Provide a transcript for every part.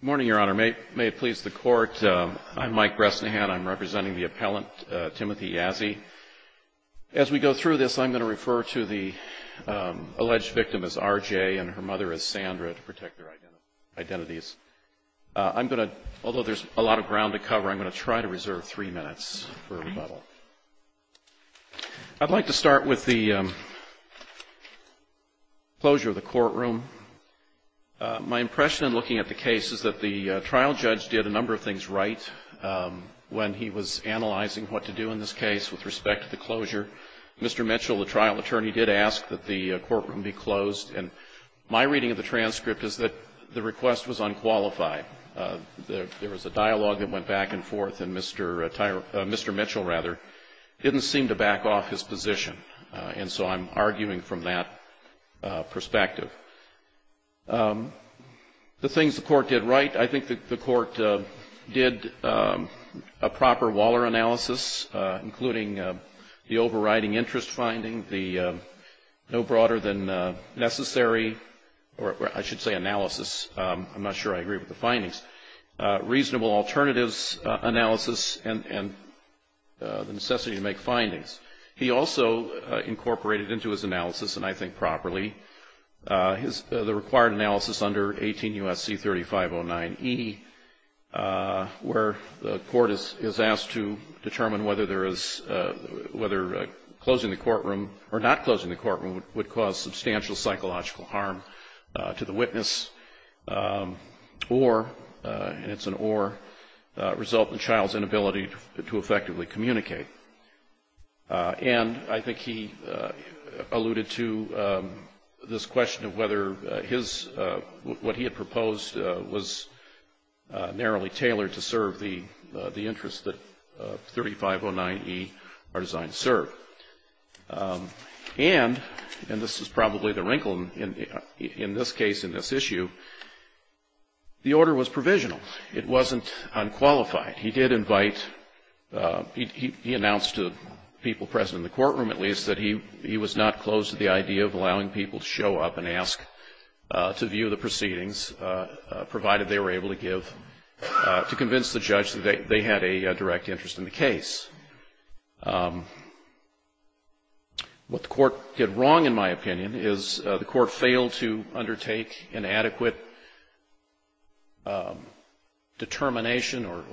Good morning, Your Honor. May it please the Court, I'm Mike Bresnahan. I'm representing the appellant, Timothy Yazzie. As we go through this, I'm going to refer to the alleged victim as R.J. and her mother as Sandra to protect their identities. I'm going to, although there's a lot of ground to cover, I'm going to try to reserve three minutes for rebuttal. I'd like to start with the closure of the courtroom. My impression in looking at the case is that the trial judge did a number of things right when he was analyzing what to do in this case with respect to the closure. Mr. Mitchell, the trial attorney, did ask that the courtroom be closed. And my reading of the transcript is that the request was unqualified. There was a dialogue that went back and forth, and Mr. Mitchell didn't seem to back off his position. And so I'm arguing from that perspective. The things the court did right, I think the court did a proper Waller analysis, including the overriding interest finding, the no broader than necessary, or I should say analysis, I'm not sure I agree with the findings, reasonable alternatives analysis, and the necessity to make findings. He also incorporated into his analysis, and I think properly, the required analysis under 18 U.S.C. 3509E, where the court is asked to determine whether there is, whether closing the courtroom or not closing the courtroom would cause substantial psychological harm to the witness or, and it's an or, result in the child's inability to effectively communicate. And I think he alluded to this question of whether his, what he had proposed was a reasonable narrowly tailored to serve the interest that 3509E are designed to serve. And, and this is probably the wrinkle in this case, in this issue, the order was provisional. It wasn't unqualified. He did invite, he announced to people present in the courtroom, at least, that he was not opposed to the idea of allowing people to show up and ask to view the proceedings, provided they were able to give, to convince the judge that they had a direct interest in the case. What the court did wrong, in my opinion, is the court failed to undertake an adequate determination or,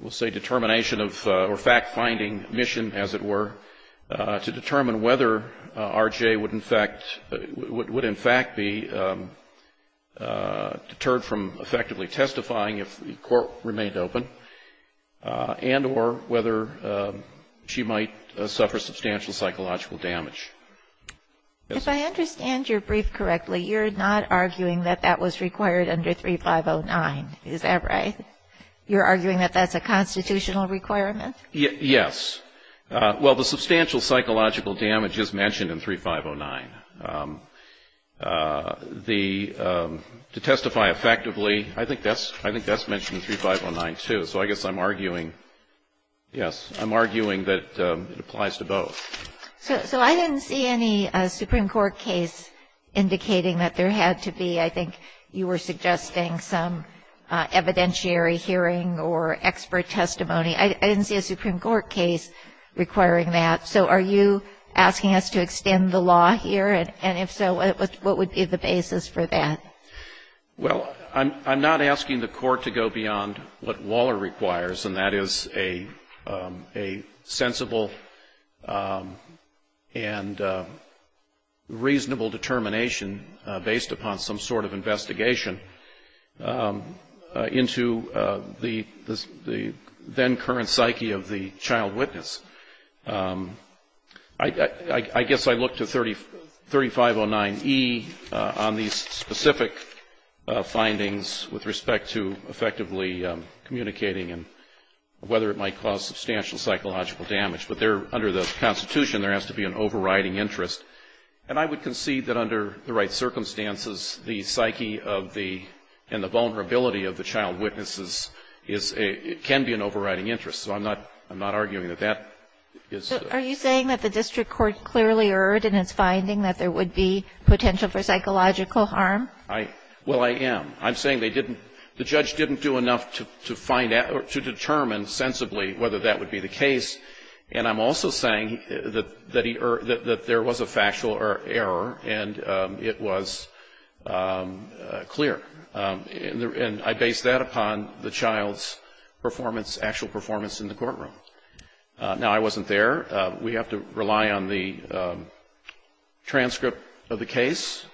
we'll say determination of, or fact-finding mission, as it were, to determine whether R.J. would in fact, would in fact be deterred from effectively testifying if the court remained open, and or whether she might suffer substantial psychological damage. If I understand your brief correctly, you're not arguing that that was required under 3509. Is that right? You're arguing that that's a constitutional requirement? Yes. Well, the substantial psychological damage is mentioned in 3509. The, to testify effectively, I think that's, I think that's mentioned in 3509, too. So I guess I'm arguing, yes, I'm arguing that it applies to both. So I didn't see any Supreme Court case indicating that there had to be, I think you were suggesting, some evidentiary hearing or expert testimony. I didn't see a Supreme Court case requiring that. So are you asking us to extend the law here? And if so, what would be the basis for that? Well, I'm not asking the Court to go beyond what Waller requires, and that is a sensible and reasonable determination based upon some sort of investigation into the then-current psyche of the child witness. I guess I look to 3509E on these specific findings with respect to effectively communicating and whether it might cause substantial psychological damage. But there, under the Constitution, there has to be an overriding interest. And I would concede that under the right circumstances, the psyche of the, and the vulnerability of the child witnesses is a, can be an overriding interest. So I'm not, I'm not arguing that that is. Are you saying that the district court clearly erred in its finding that there would be potential for psychological harm? I, well, I am. I'm saying they didn't, the judge didn't do enough to find out, to determine sensibly whether that would be the case. And I'm also saying that he, that there was a factual error and it was clear. And I base that upon the child's performance, actual performance in the courtroom. Now, I wasn't there. We have to rely on the transcript of the case.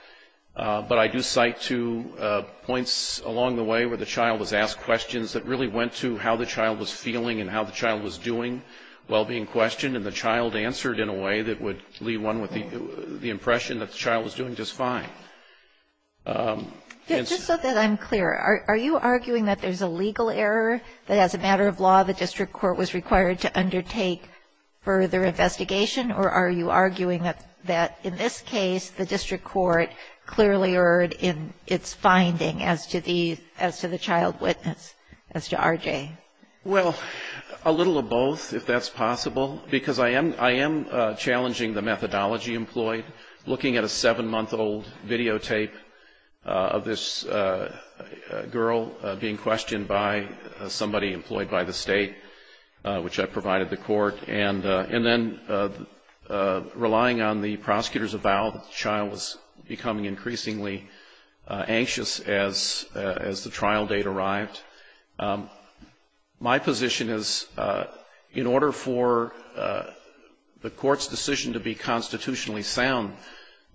But I do cite two points along the way where the child was asked questions that really went to how the child was feeling and how the child was doing while being questioned. And the child answered in a way that would leave one with the impression that the child was doing just fine. Just so that I'm clear, are you arguing that there's a legal error that as a matter of law the district court was required to undertake further investigation, or are you arguing that in this case the district court clearly erred in its finding as to the, as to the child witness, as to R.J.? Well, a little of both, if that's possible, because I am, I am challenging the methodology employed. Looking at a seven-month-old videotape of this girl being questioned by somebody employed by the state, which I provided the court, and then relying on the prosecutor's avowal that the child was becoming increasingly anxious as the trial date arrived. My position is in order for the Court's decision to be constitutionally sound,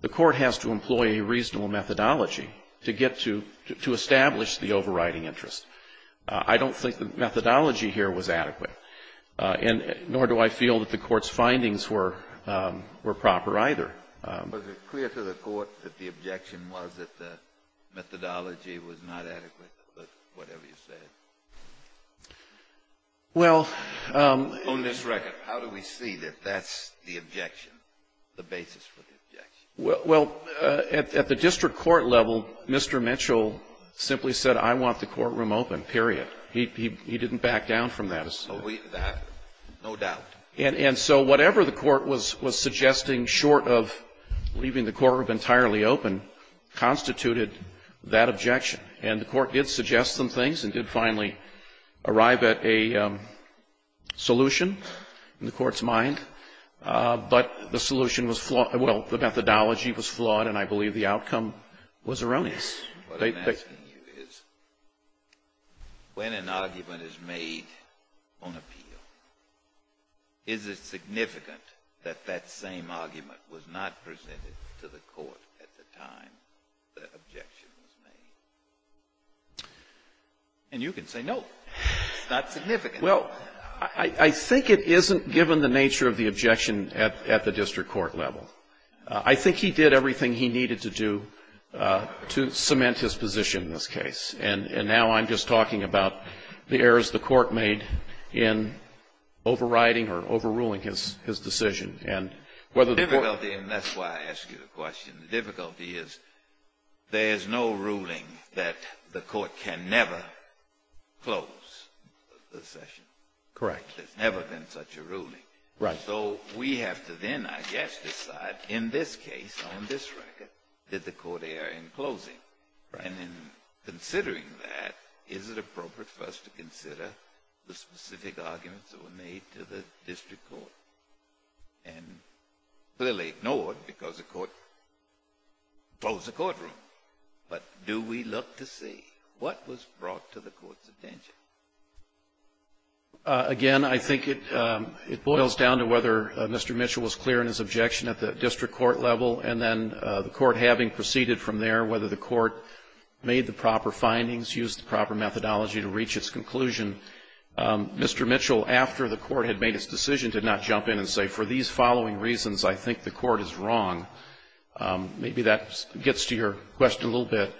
the Court has to employ a reasonable methodology to get to, to establish the overriding interest. I don't think the methodology here was adequate, and nor do I feel that the Court's findings were proper either. Was it clear to the Court that the objection was that the methodology was not adequate, whatever you said? Well, on this record, how do we see that that's the objection, the basis for the objection? Well, at the district court level, Mr. Mitchell simply said, I want the courtroom open, period. He didn't back down from that. That, no doubt. And so whatever the Court was suggesting, short of leaving the courtroom entirely open, constituted that objection. And the Court did suggest some things, and did finally arrive at a solution in the Court's mind. But the solution was flawed. Well, the methodology was flawed, and I believe the outcome was erroneous. What I'm asking you is, when an argument is made on appeal, is it significant that that same argument was not presented to the Court at the time the objection was made? And you can say no. It's not significant. Well, I think it isn't given the nature of the objection at the district court level. I think he did everything he needed to do to cement his position in this case. And now I'm just talking about the errors the Court made in overriding or overruling his decision. Well, that's why I ask you the question. The difficulty is there is no ruling that the Court can never close the session. Correct. There's never been such a ruling. Right. So we have to then, I guess, decide, in this case, on this record, did the Court err in closing? Right. And in considering that, is it appropriate for us to consider the specific arguments that were made to the district court and clearly ignored because the Court closed the courtroom? But do we look to see what was brought to the Court's attention? Again, I think it boils down to whether Mr. Mitchell was clear in his objection at the district court level, and then the Court having proceeded from there, whether the Court made the proper findings, used the proper methodology to reach its conclusion. Mr. Mitchell, after the Court had made its decision, did not jump in and say, for these following reasons, I think the Court is wrong. Maybe that gets to your question a little bit.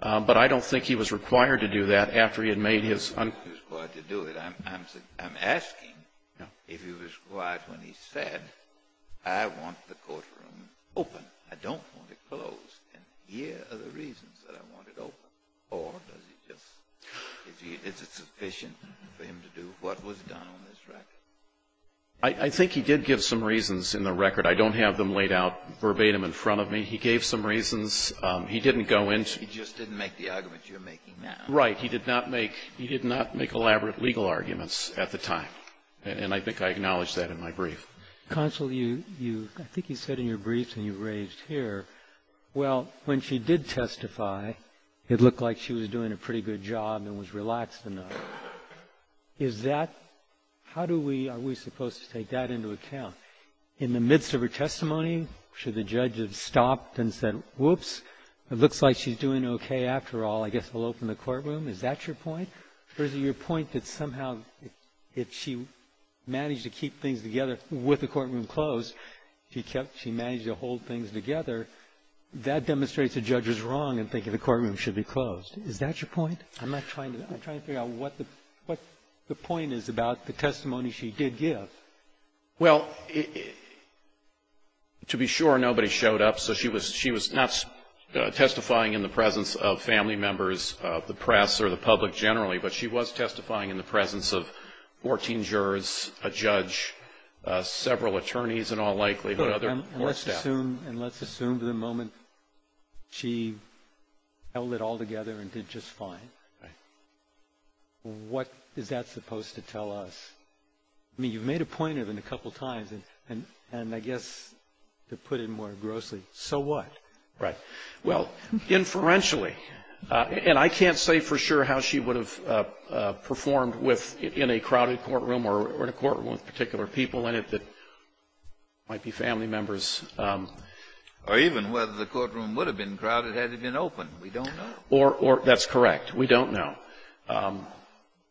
But I don't think he was required to do that after he had made his uncertainty. He was required to do it. I'm asking if he was required when he said, I want the courtroom open. I don't want it closed. And here are the reasons that I want it open. Or does he just – is it sufficient for him to do what was done on this record? I think he did give some reasons in the record. I don't have them laid out verbatim in front of me. He gave some reasons. He didn't go into – He just didn't make the arguments you're making now. Right. He did not make – he did not make elaborate legal arguments at the time. And I think I acknowledged that in my brief. Counsel, you – I think you said in your brief and you raised here, well, when she did testify, it looked like she was doing a pretty good job and was relaxed enough. Is that – how do we – are we supposed to take that into account? In the midst of her testimony, should the judge have stopped and said, whoops, it looks like she's doing okay after all. I guess we'll open the courtroom. Is that your point? Or is it your point that somehow if she managed to keep things together with the courtroom closed, she kept – she managed to hold things together, that demonstrates a judge is wrong in thinking the courtroom should be closed. Is that your point? I'm not trying to – I'm trying to figure out what the point is about the testimony she did give. Well, to be sure, nobody showed up. So she was not testifying in the presence of family members, the press, or the public other court staff. And let's assume – and let's assume the moment she held it all together and did just fine. Right. What is that supposed to tell us? I mean, you've made a point of it a couple times, and I guess to put it more grossly, so what? Right. Well, inferentially – and I can't say for sure how she would have performed with – in a crowded courtroom or in a courtroom with particular people in it that might be family members. Or even whether the courtroom would have been crowded had it been open. We don't know. Or – that's correct. We don't know.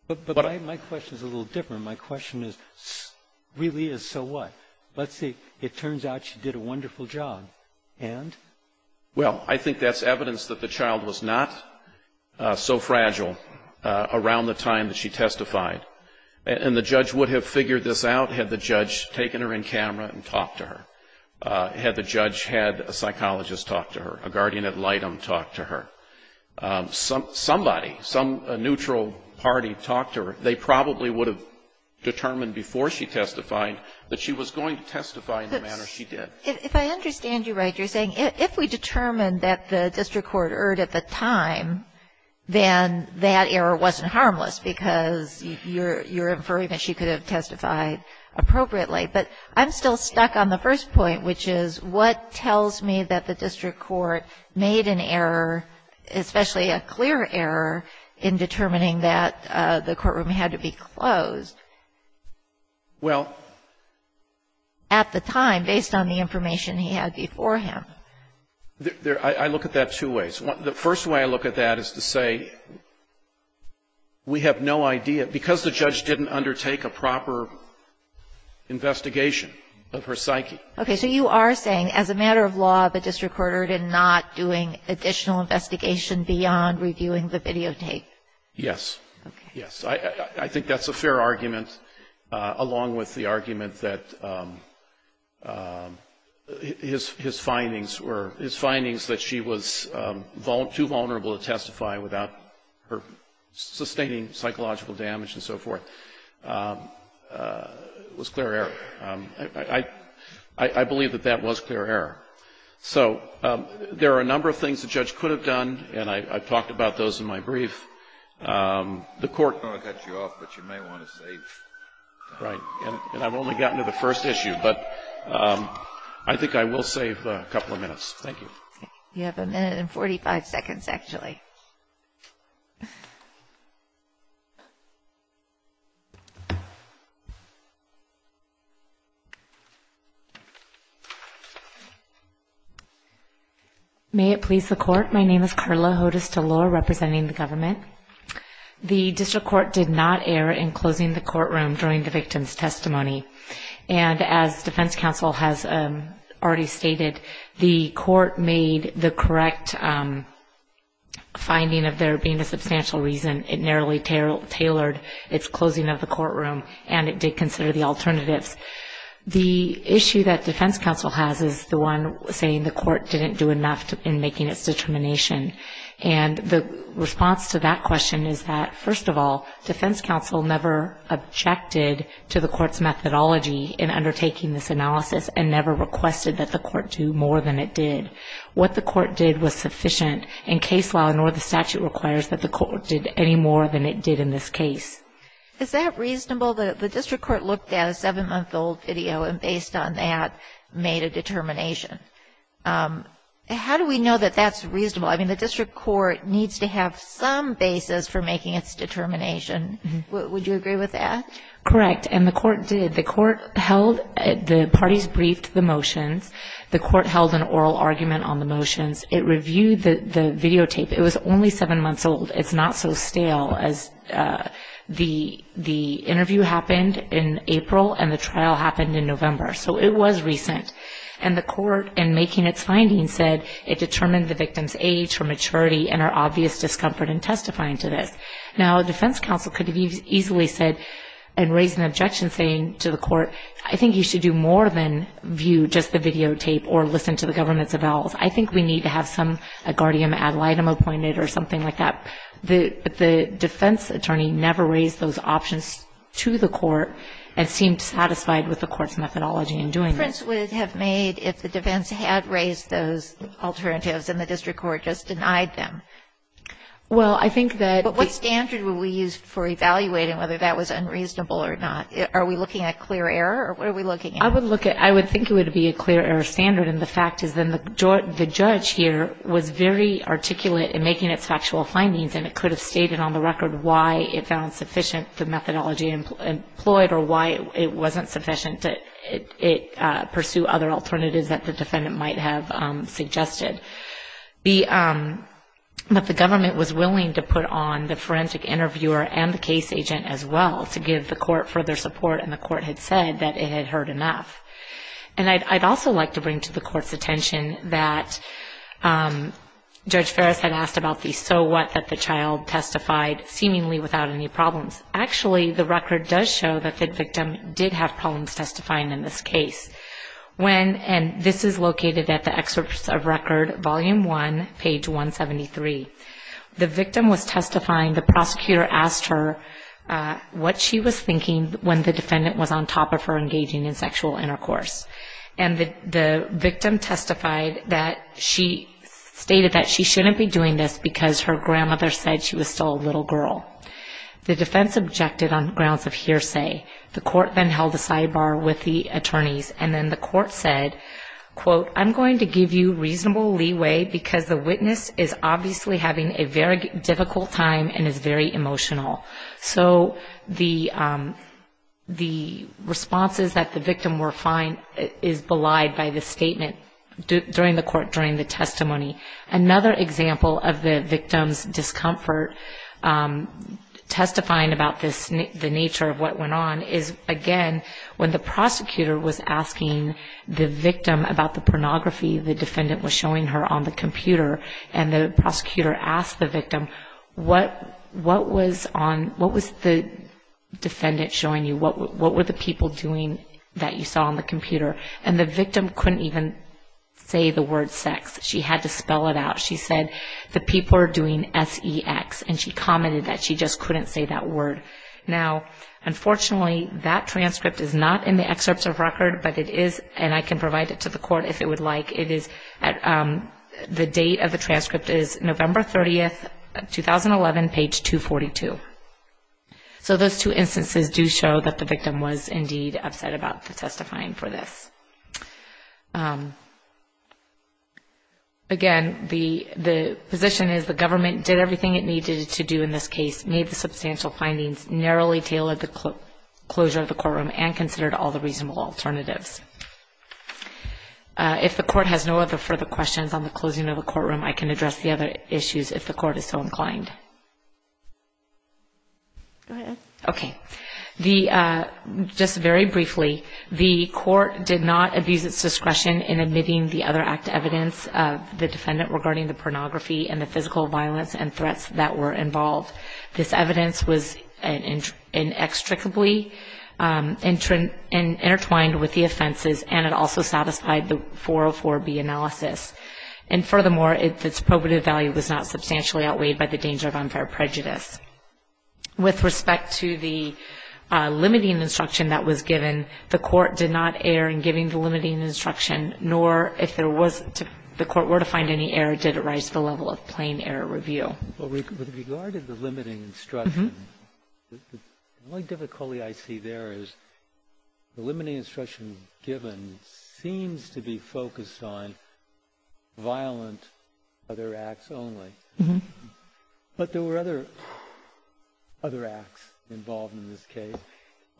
But my question is a little different. My question is really is so what? Let's say it turns out she did a wonderful job, and? Well, I think that's evidence that the child was not so fragile around the time that she testified. And the judge would have figured this out had the judge taken her in camera and talked to her, had the judge had a psychologist talk to her, a guardian ad litem talk to her. Somebody, some neutral party talked to her. They probably would have determined before she testified that she was going to testify in the manner she did. If I understand you right, you're saying if we determined that the district court erred at the time, then that error wasn't harmless because you're inferring that she could have testified appropriately. But I'm still stuck on the first point, which is what tells me that the district court made an error, especially a clear error, in determining that the courtroom had to be closed? Well. At the time, based on the information he had before him. I look at that two ways. The first way I look at that is to say we have no idea. Because the judge didn't undertake a proper investigation of her psyche. Okay. So you are saying as a matter of law, the district court erred in not doing additional investigation beyond reviewing the videotape. Yes. Yes. I think that's a fair argument, along with the argument that his findings were, his findings that she was too vulnerable to testify without her sustaining psychological damage and so forth, was clear error. I believe that that was clear error. So there are a number of things the judge could have done, and I've talked about those in my brief. I don't want to cut you off, but you may want to save time. Right. And I've only gotten to the first issue, but I think I will save a couple of minutes. Thank you. You have a minute and 45 seconds, actually. May it please the Court. My name is Karla Hodes-Delore, representing the government. The district court did not err in closing the courtroom during the victim's testimony. And as defense counsel has already stated, the court made the correct finding of there being a substantial reason. It narrowly tailored its closing of the courtroom, and it did consider the alternatives. The issue that defense counsel has is the one saying the court didn't do enough in making its determination. And the response to that question is that, first of all, defense counsel never objected to the court's methodology in undertaking this analysis and never requested that the court do more than it did. What the court did was sufficient, and case law nor the statute requires that the court did any more than it did in this case. Is that reasonable? Well, the district court looked at a seven-month-old video and, based on that, made a determination. How do we know that that's reasonable? I mean, the district court needs to have some basis for making its determination. Would you agree with that? Correct. And the court did. The court held the parties briefed the motions. The court held an oral argument on the motions. It reviewed the videotape. It was only seven months old. It's not so stale as the interview happened in April and the trial happened in November. So it was recent. And the court, in making its findings, said it determined the victim's age or maturity and our obvious discomfort in testifying to this. Now a defense counsel could have easily said and raised an objection saying to the court, I think you should do more than view just the videotape or listen to the government's avowals. I think we need to have a guardian ad litem appointed or something like that. But the defense attorney never raised those options to the court and seemed satisfied with the court's methodology in doing this. What difference would it have made if the defense had raised those alternatives and the district court just denied them? Well, I think that the... But what standard would we use for evaluating whether that was unreasonable or not? Are we looking at clear error or what are we looking at? I would think it would be a clear error standard. And the fact is then the judge here was very articulate in making its factual findings and it could have stated on the record why it found sufficient the methodology employed or why it wasn't sufficient to pursue other alternatives that the defendant might have suggested. But the government was willing to put on the forensic interviewer and the case agent as well to give the court further support and the court had said that it had heard enough. And I'd also like to bring to the court's attention that Judge Ferris had asked about the so what that the child testified seemingly without any problems. Actually, the record does show that the victim did have problems testifying in this case. And this is located at the excerpts of record, volume one, page 173. The victim was testifying. The prosecutor asked her what she was thinking when the defendant was on top of her engaging in sexual intercourse. And the victim testified that she stated that she shouldn't be doing this because her grandmother said she was still a little girl. The defense objected on grounds of hearsay. The court then held a sidebar with the attorneys and then the court said, quote, I'm going to give you reasonable leeway because the witness is obviously having a very difficult time and is very emotional. So the response is that the victim is belied by the statement during the testimony. Another example of the victim's discomfort testifying about the nature of what went on is, again, when the prosecutor was asking the victim about the pornography the defendant was showing her on the computer and the prosecutor asked the victim, what was the defendant showing you? What were the people doing that you saw on the computer? And the victim couldn't even say the word sex. She had to spell it out. She said, the people are doing S-E-X, and she commented that she just couldn't say that word. Now, unfortunately, that transcript is not in the excerpts of record, but it is, and I can provide it to the court if it would like. The date of the transcript is November 30, 2011, page 242. So those two instances do show that the victim was indeed upset about the testifying for this. Again, the position is the government did everything it needed to do in this case, made the substantial findings, narrowly tailored the closure of the courtroom, and considered all the reasonable alternatives. If the court has no other further questions on the closing of the courtroom, I can address the other issues if the court is so inclined. Go ahead. Okay. Just very briefly, the court did not abuse its discretion in admitting the other active evidence of the defendant regarding the pornography and the physical violence and threats that were involved. This evidence was inextricably intertwined with the offenses, and it also satisfied the 404B analysis. And furthermore, its probative value was not substantially outweighed by the danger of unfair prejudice. With respect to the limiting instruction that was given, the court did not err in giving the limiting instruction, nor if the court were to find any error did it rise to the level of plain error review. With regard to the limiting instruction, the only difficulty I see there is the limiting instruction given seems to be focused on violent other acts only. But there were other acts involved in this case,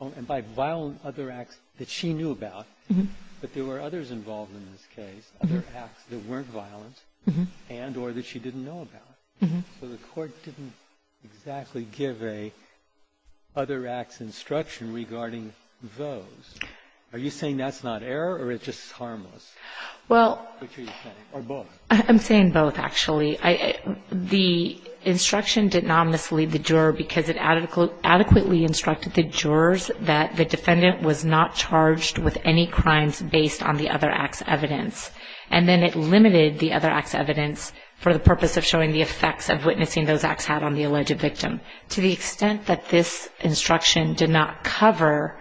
and by violent other acts that she knew about. But there were others involved in this case, other acts that weren't violent and or that she didn't know about. So the court didn't exactly give a other acts instruction regarding those. Are you saying that's not error or it's just harmless? Which are you saying? Or both? I'm saying both, actually. The instruction did not mislead the juror because it adequately instructed the jurors that the defendant was not charged with any crimes based on the other acts evidence, and then it limited the other acts evidence for the purpose of showing the effects of witnessing those acts had on the alleged victim. To the extent that this instruction did not cover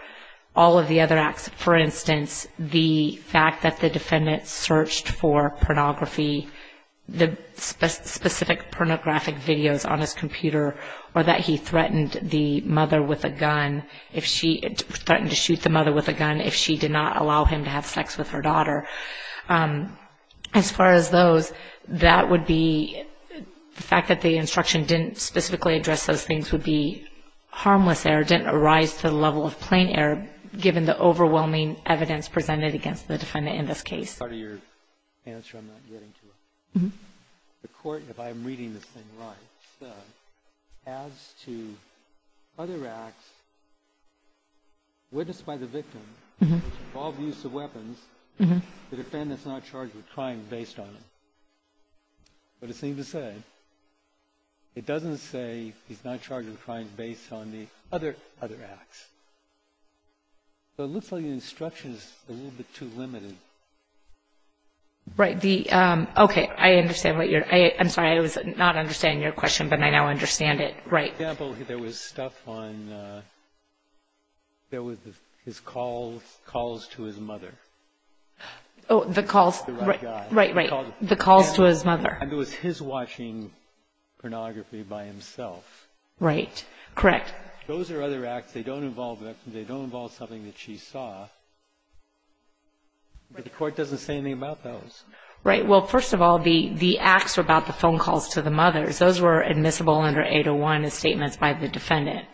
all of the other acts, for instance, the fact that the defendant searched for pornography, the specific pornographic videos on his computer, or that he threatened the mother with a gun, threatened to shoot the mother with a gun if she did not allow him to have sex with her daughter. As far as those, that would be the fact that the instruction didn't specifically address those things would be harmless error, didn't arise to the level of plain error given the overwhelming evidence presented against the defendant in this case. Part of your answer I'm not getting to. The Court, if I'm reading this thing right, said as to other acts witnessed by the victim, all abuse of weapons, the defendant's not charged with crime based on them. But it seems to say, it doesn't say he's not charged with crimes based on the other acts. So it looks like the instruction's a little bit too limited. Right. Okay. I understand what you're – I'm sorry. I was not understanding your question, but I now understand it. Right. For example, there was stuff on – there was his calls to his mother. Oh, the calls – The right guy. Right, right. The calls to his mother. And it was his watching pornography by himself. Right. Correct. Those are other acts. They don't involve the victim. They don't involve something that she saw. But the Court doesn't say anything about those. Right. Well, first of all, the acts about the phone calls to the mothers, those were admissible under 801 as statements by the defendant.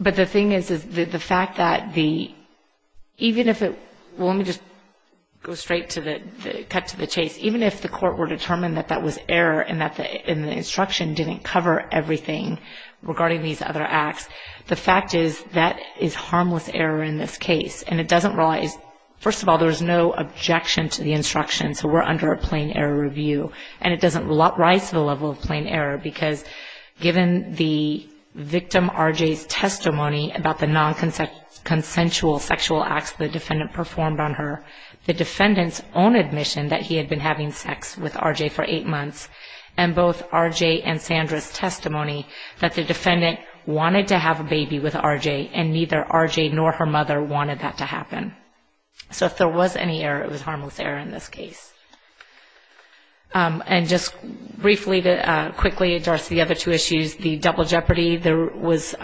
But the thing is, is the fact that the – even if it – well, let me just go straight to the – cut to the chase. Even if the Court were determined that that was error and that the instruction didn't cover everything regarding these other acts, the fact is that is harmless error in this case. And it doesn't – first of all, there was no objection to the instruction, so we're under a plain error review. And it doesn't rise to the level of plain error because given the victim, R.J.'s, testimony about the nonconsensual sexual acts the defendant performed on her, the defendant's own admission that he had been having sex with R.J. for eight months, and both R.J. and Sandra's testimony that the defendant wanted to have a baby with R.J. and neither R.J. nor her mother wanted that to happen. So if there was any error, it was harmless error in this case. And just briefly to quickly address the other two issues, the double jeopardy, there was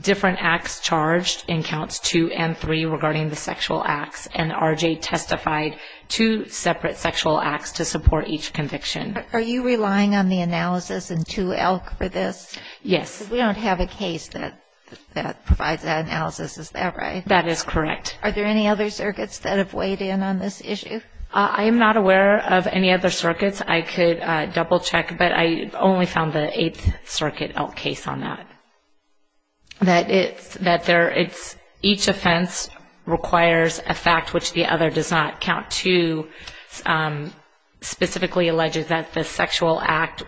different acts charged in Counts 2 and 3 regarding the sexual acts, and R.J. testified two separate sexual acts to support each conviction. Are you relying on the analysis in 2-ELK for this? Yes. Because we don't have a case that provides that analysis, is that right? That is correct. Are there any other circuits that have weighed in on this issue? I am not aware of any other circuits. I could double-check, but I only found the Eighth Circuit ELK case on that. Each offense requires a fact which the other does not. Count 2 specifically alleges that the sexual act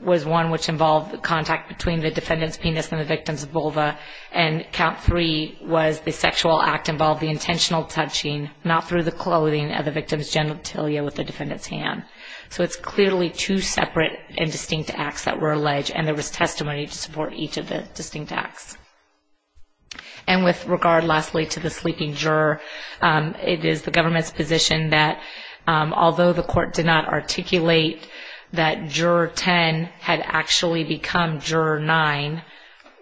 was one which involved the contact between the defendant's penis and the victim's vulva, and Count 3 was the sexual act involved the intentional touching, not through the clothing of the victim's genitalia with the defendant's hand. So it's clearly two separate and distinct acts that were alleged, and there was testimony to support each of the distinct acts. And with regard, lastly, to the sleeping juror, it is the government's position that although the court did not articulate that Juror 10 had actually become Juror 9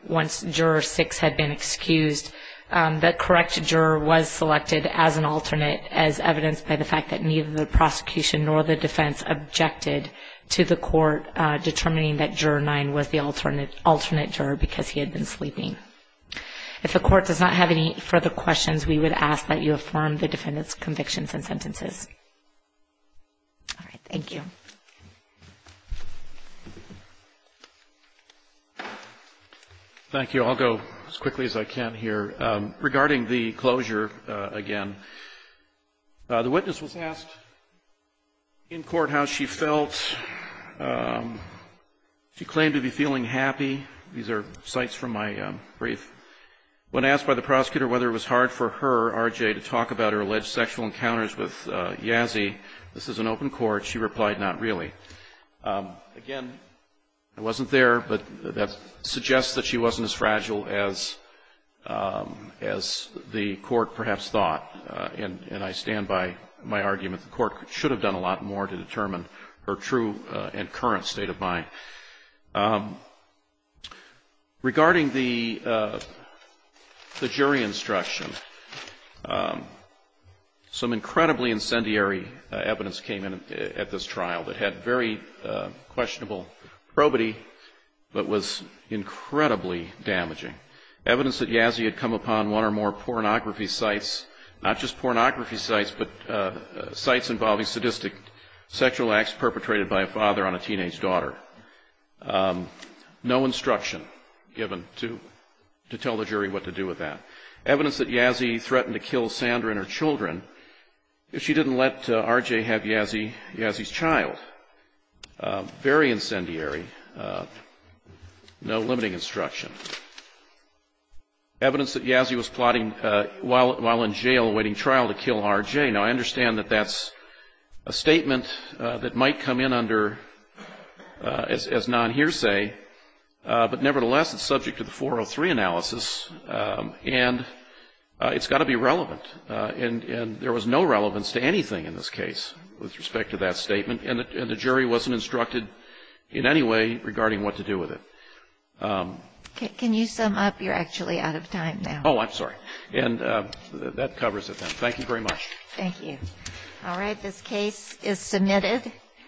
once Juror 6 had been excused, the correct juror was selected as an alternate as evidenced by the fact that neither the prosecution nor the defense objected to the court determining that Juror 9 was the alternate juror because he had been sleeping. If the court does not have any further questions, we would ask that you affirm the defendant's convictions and sentences. All right. Thank you. Thank you. I'll go as quickly as I can here. Regarding the closure, again, the witness was asked in court how she felt. She claimed to be feeling happy. These are cites from my brief. When asked by the prosecutor whether it was hard for her, R.J., to talk about her alleged sexual encounters with Yazzie, this is an open court, she replied, not really. Again, I wasn't there, but that suggests that she wasn't as fragile as the court perhaps thought. And I stand by my argument. The court should have done a lot more to determine her true and current state of mind. Regarding the jury instruction, some incredibly incendiary evidence came in at this trial that had very questionable probity, but was incredibly damaging. Evidence that Yazzie had come upon one or more pornography sites, not just pornography sites, but sites involving sadistic sexual acts perpetrated by a father on a teenage daughter. No instruction given to tell the jury what to do with that. Evidence that Yazzie threatened to kill Sandra and her children if she didn't let R.J. have Yazzie's child. Very incendiary. No limiting instruction. Evidence that Yazzie was plotting while in jail awaiting trial to kill R.J. Now, I understand that that's a statement that might come in under as non-hearsay, but nevertheless, it's subject to the 403 analysis, and it's got to be relevant. And there was no relevance to anything in this case with respect to that statement, and the jury wasn't instructed in any way regarding what to do with it. Can you sum up? You're actually out of time now. Oh, I'm sorry. And that covers it then. Thank you very much. Thank you. All right. This case is submitted.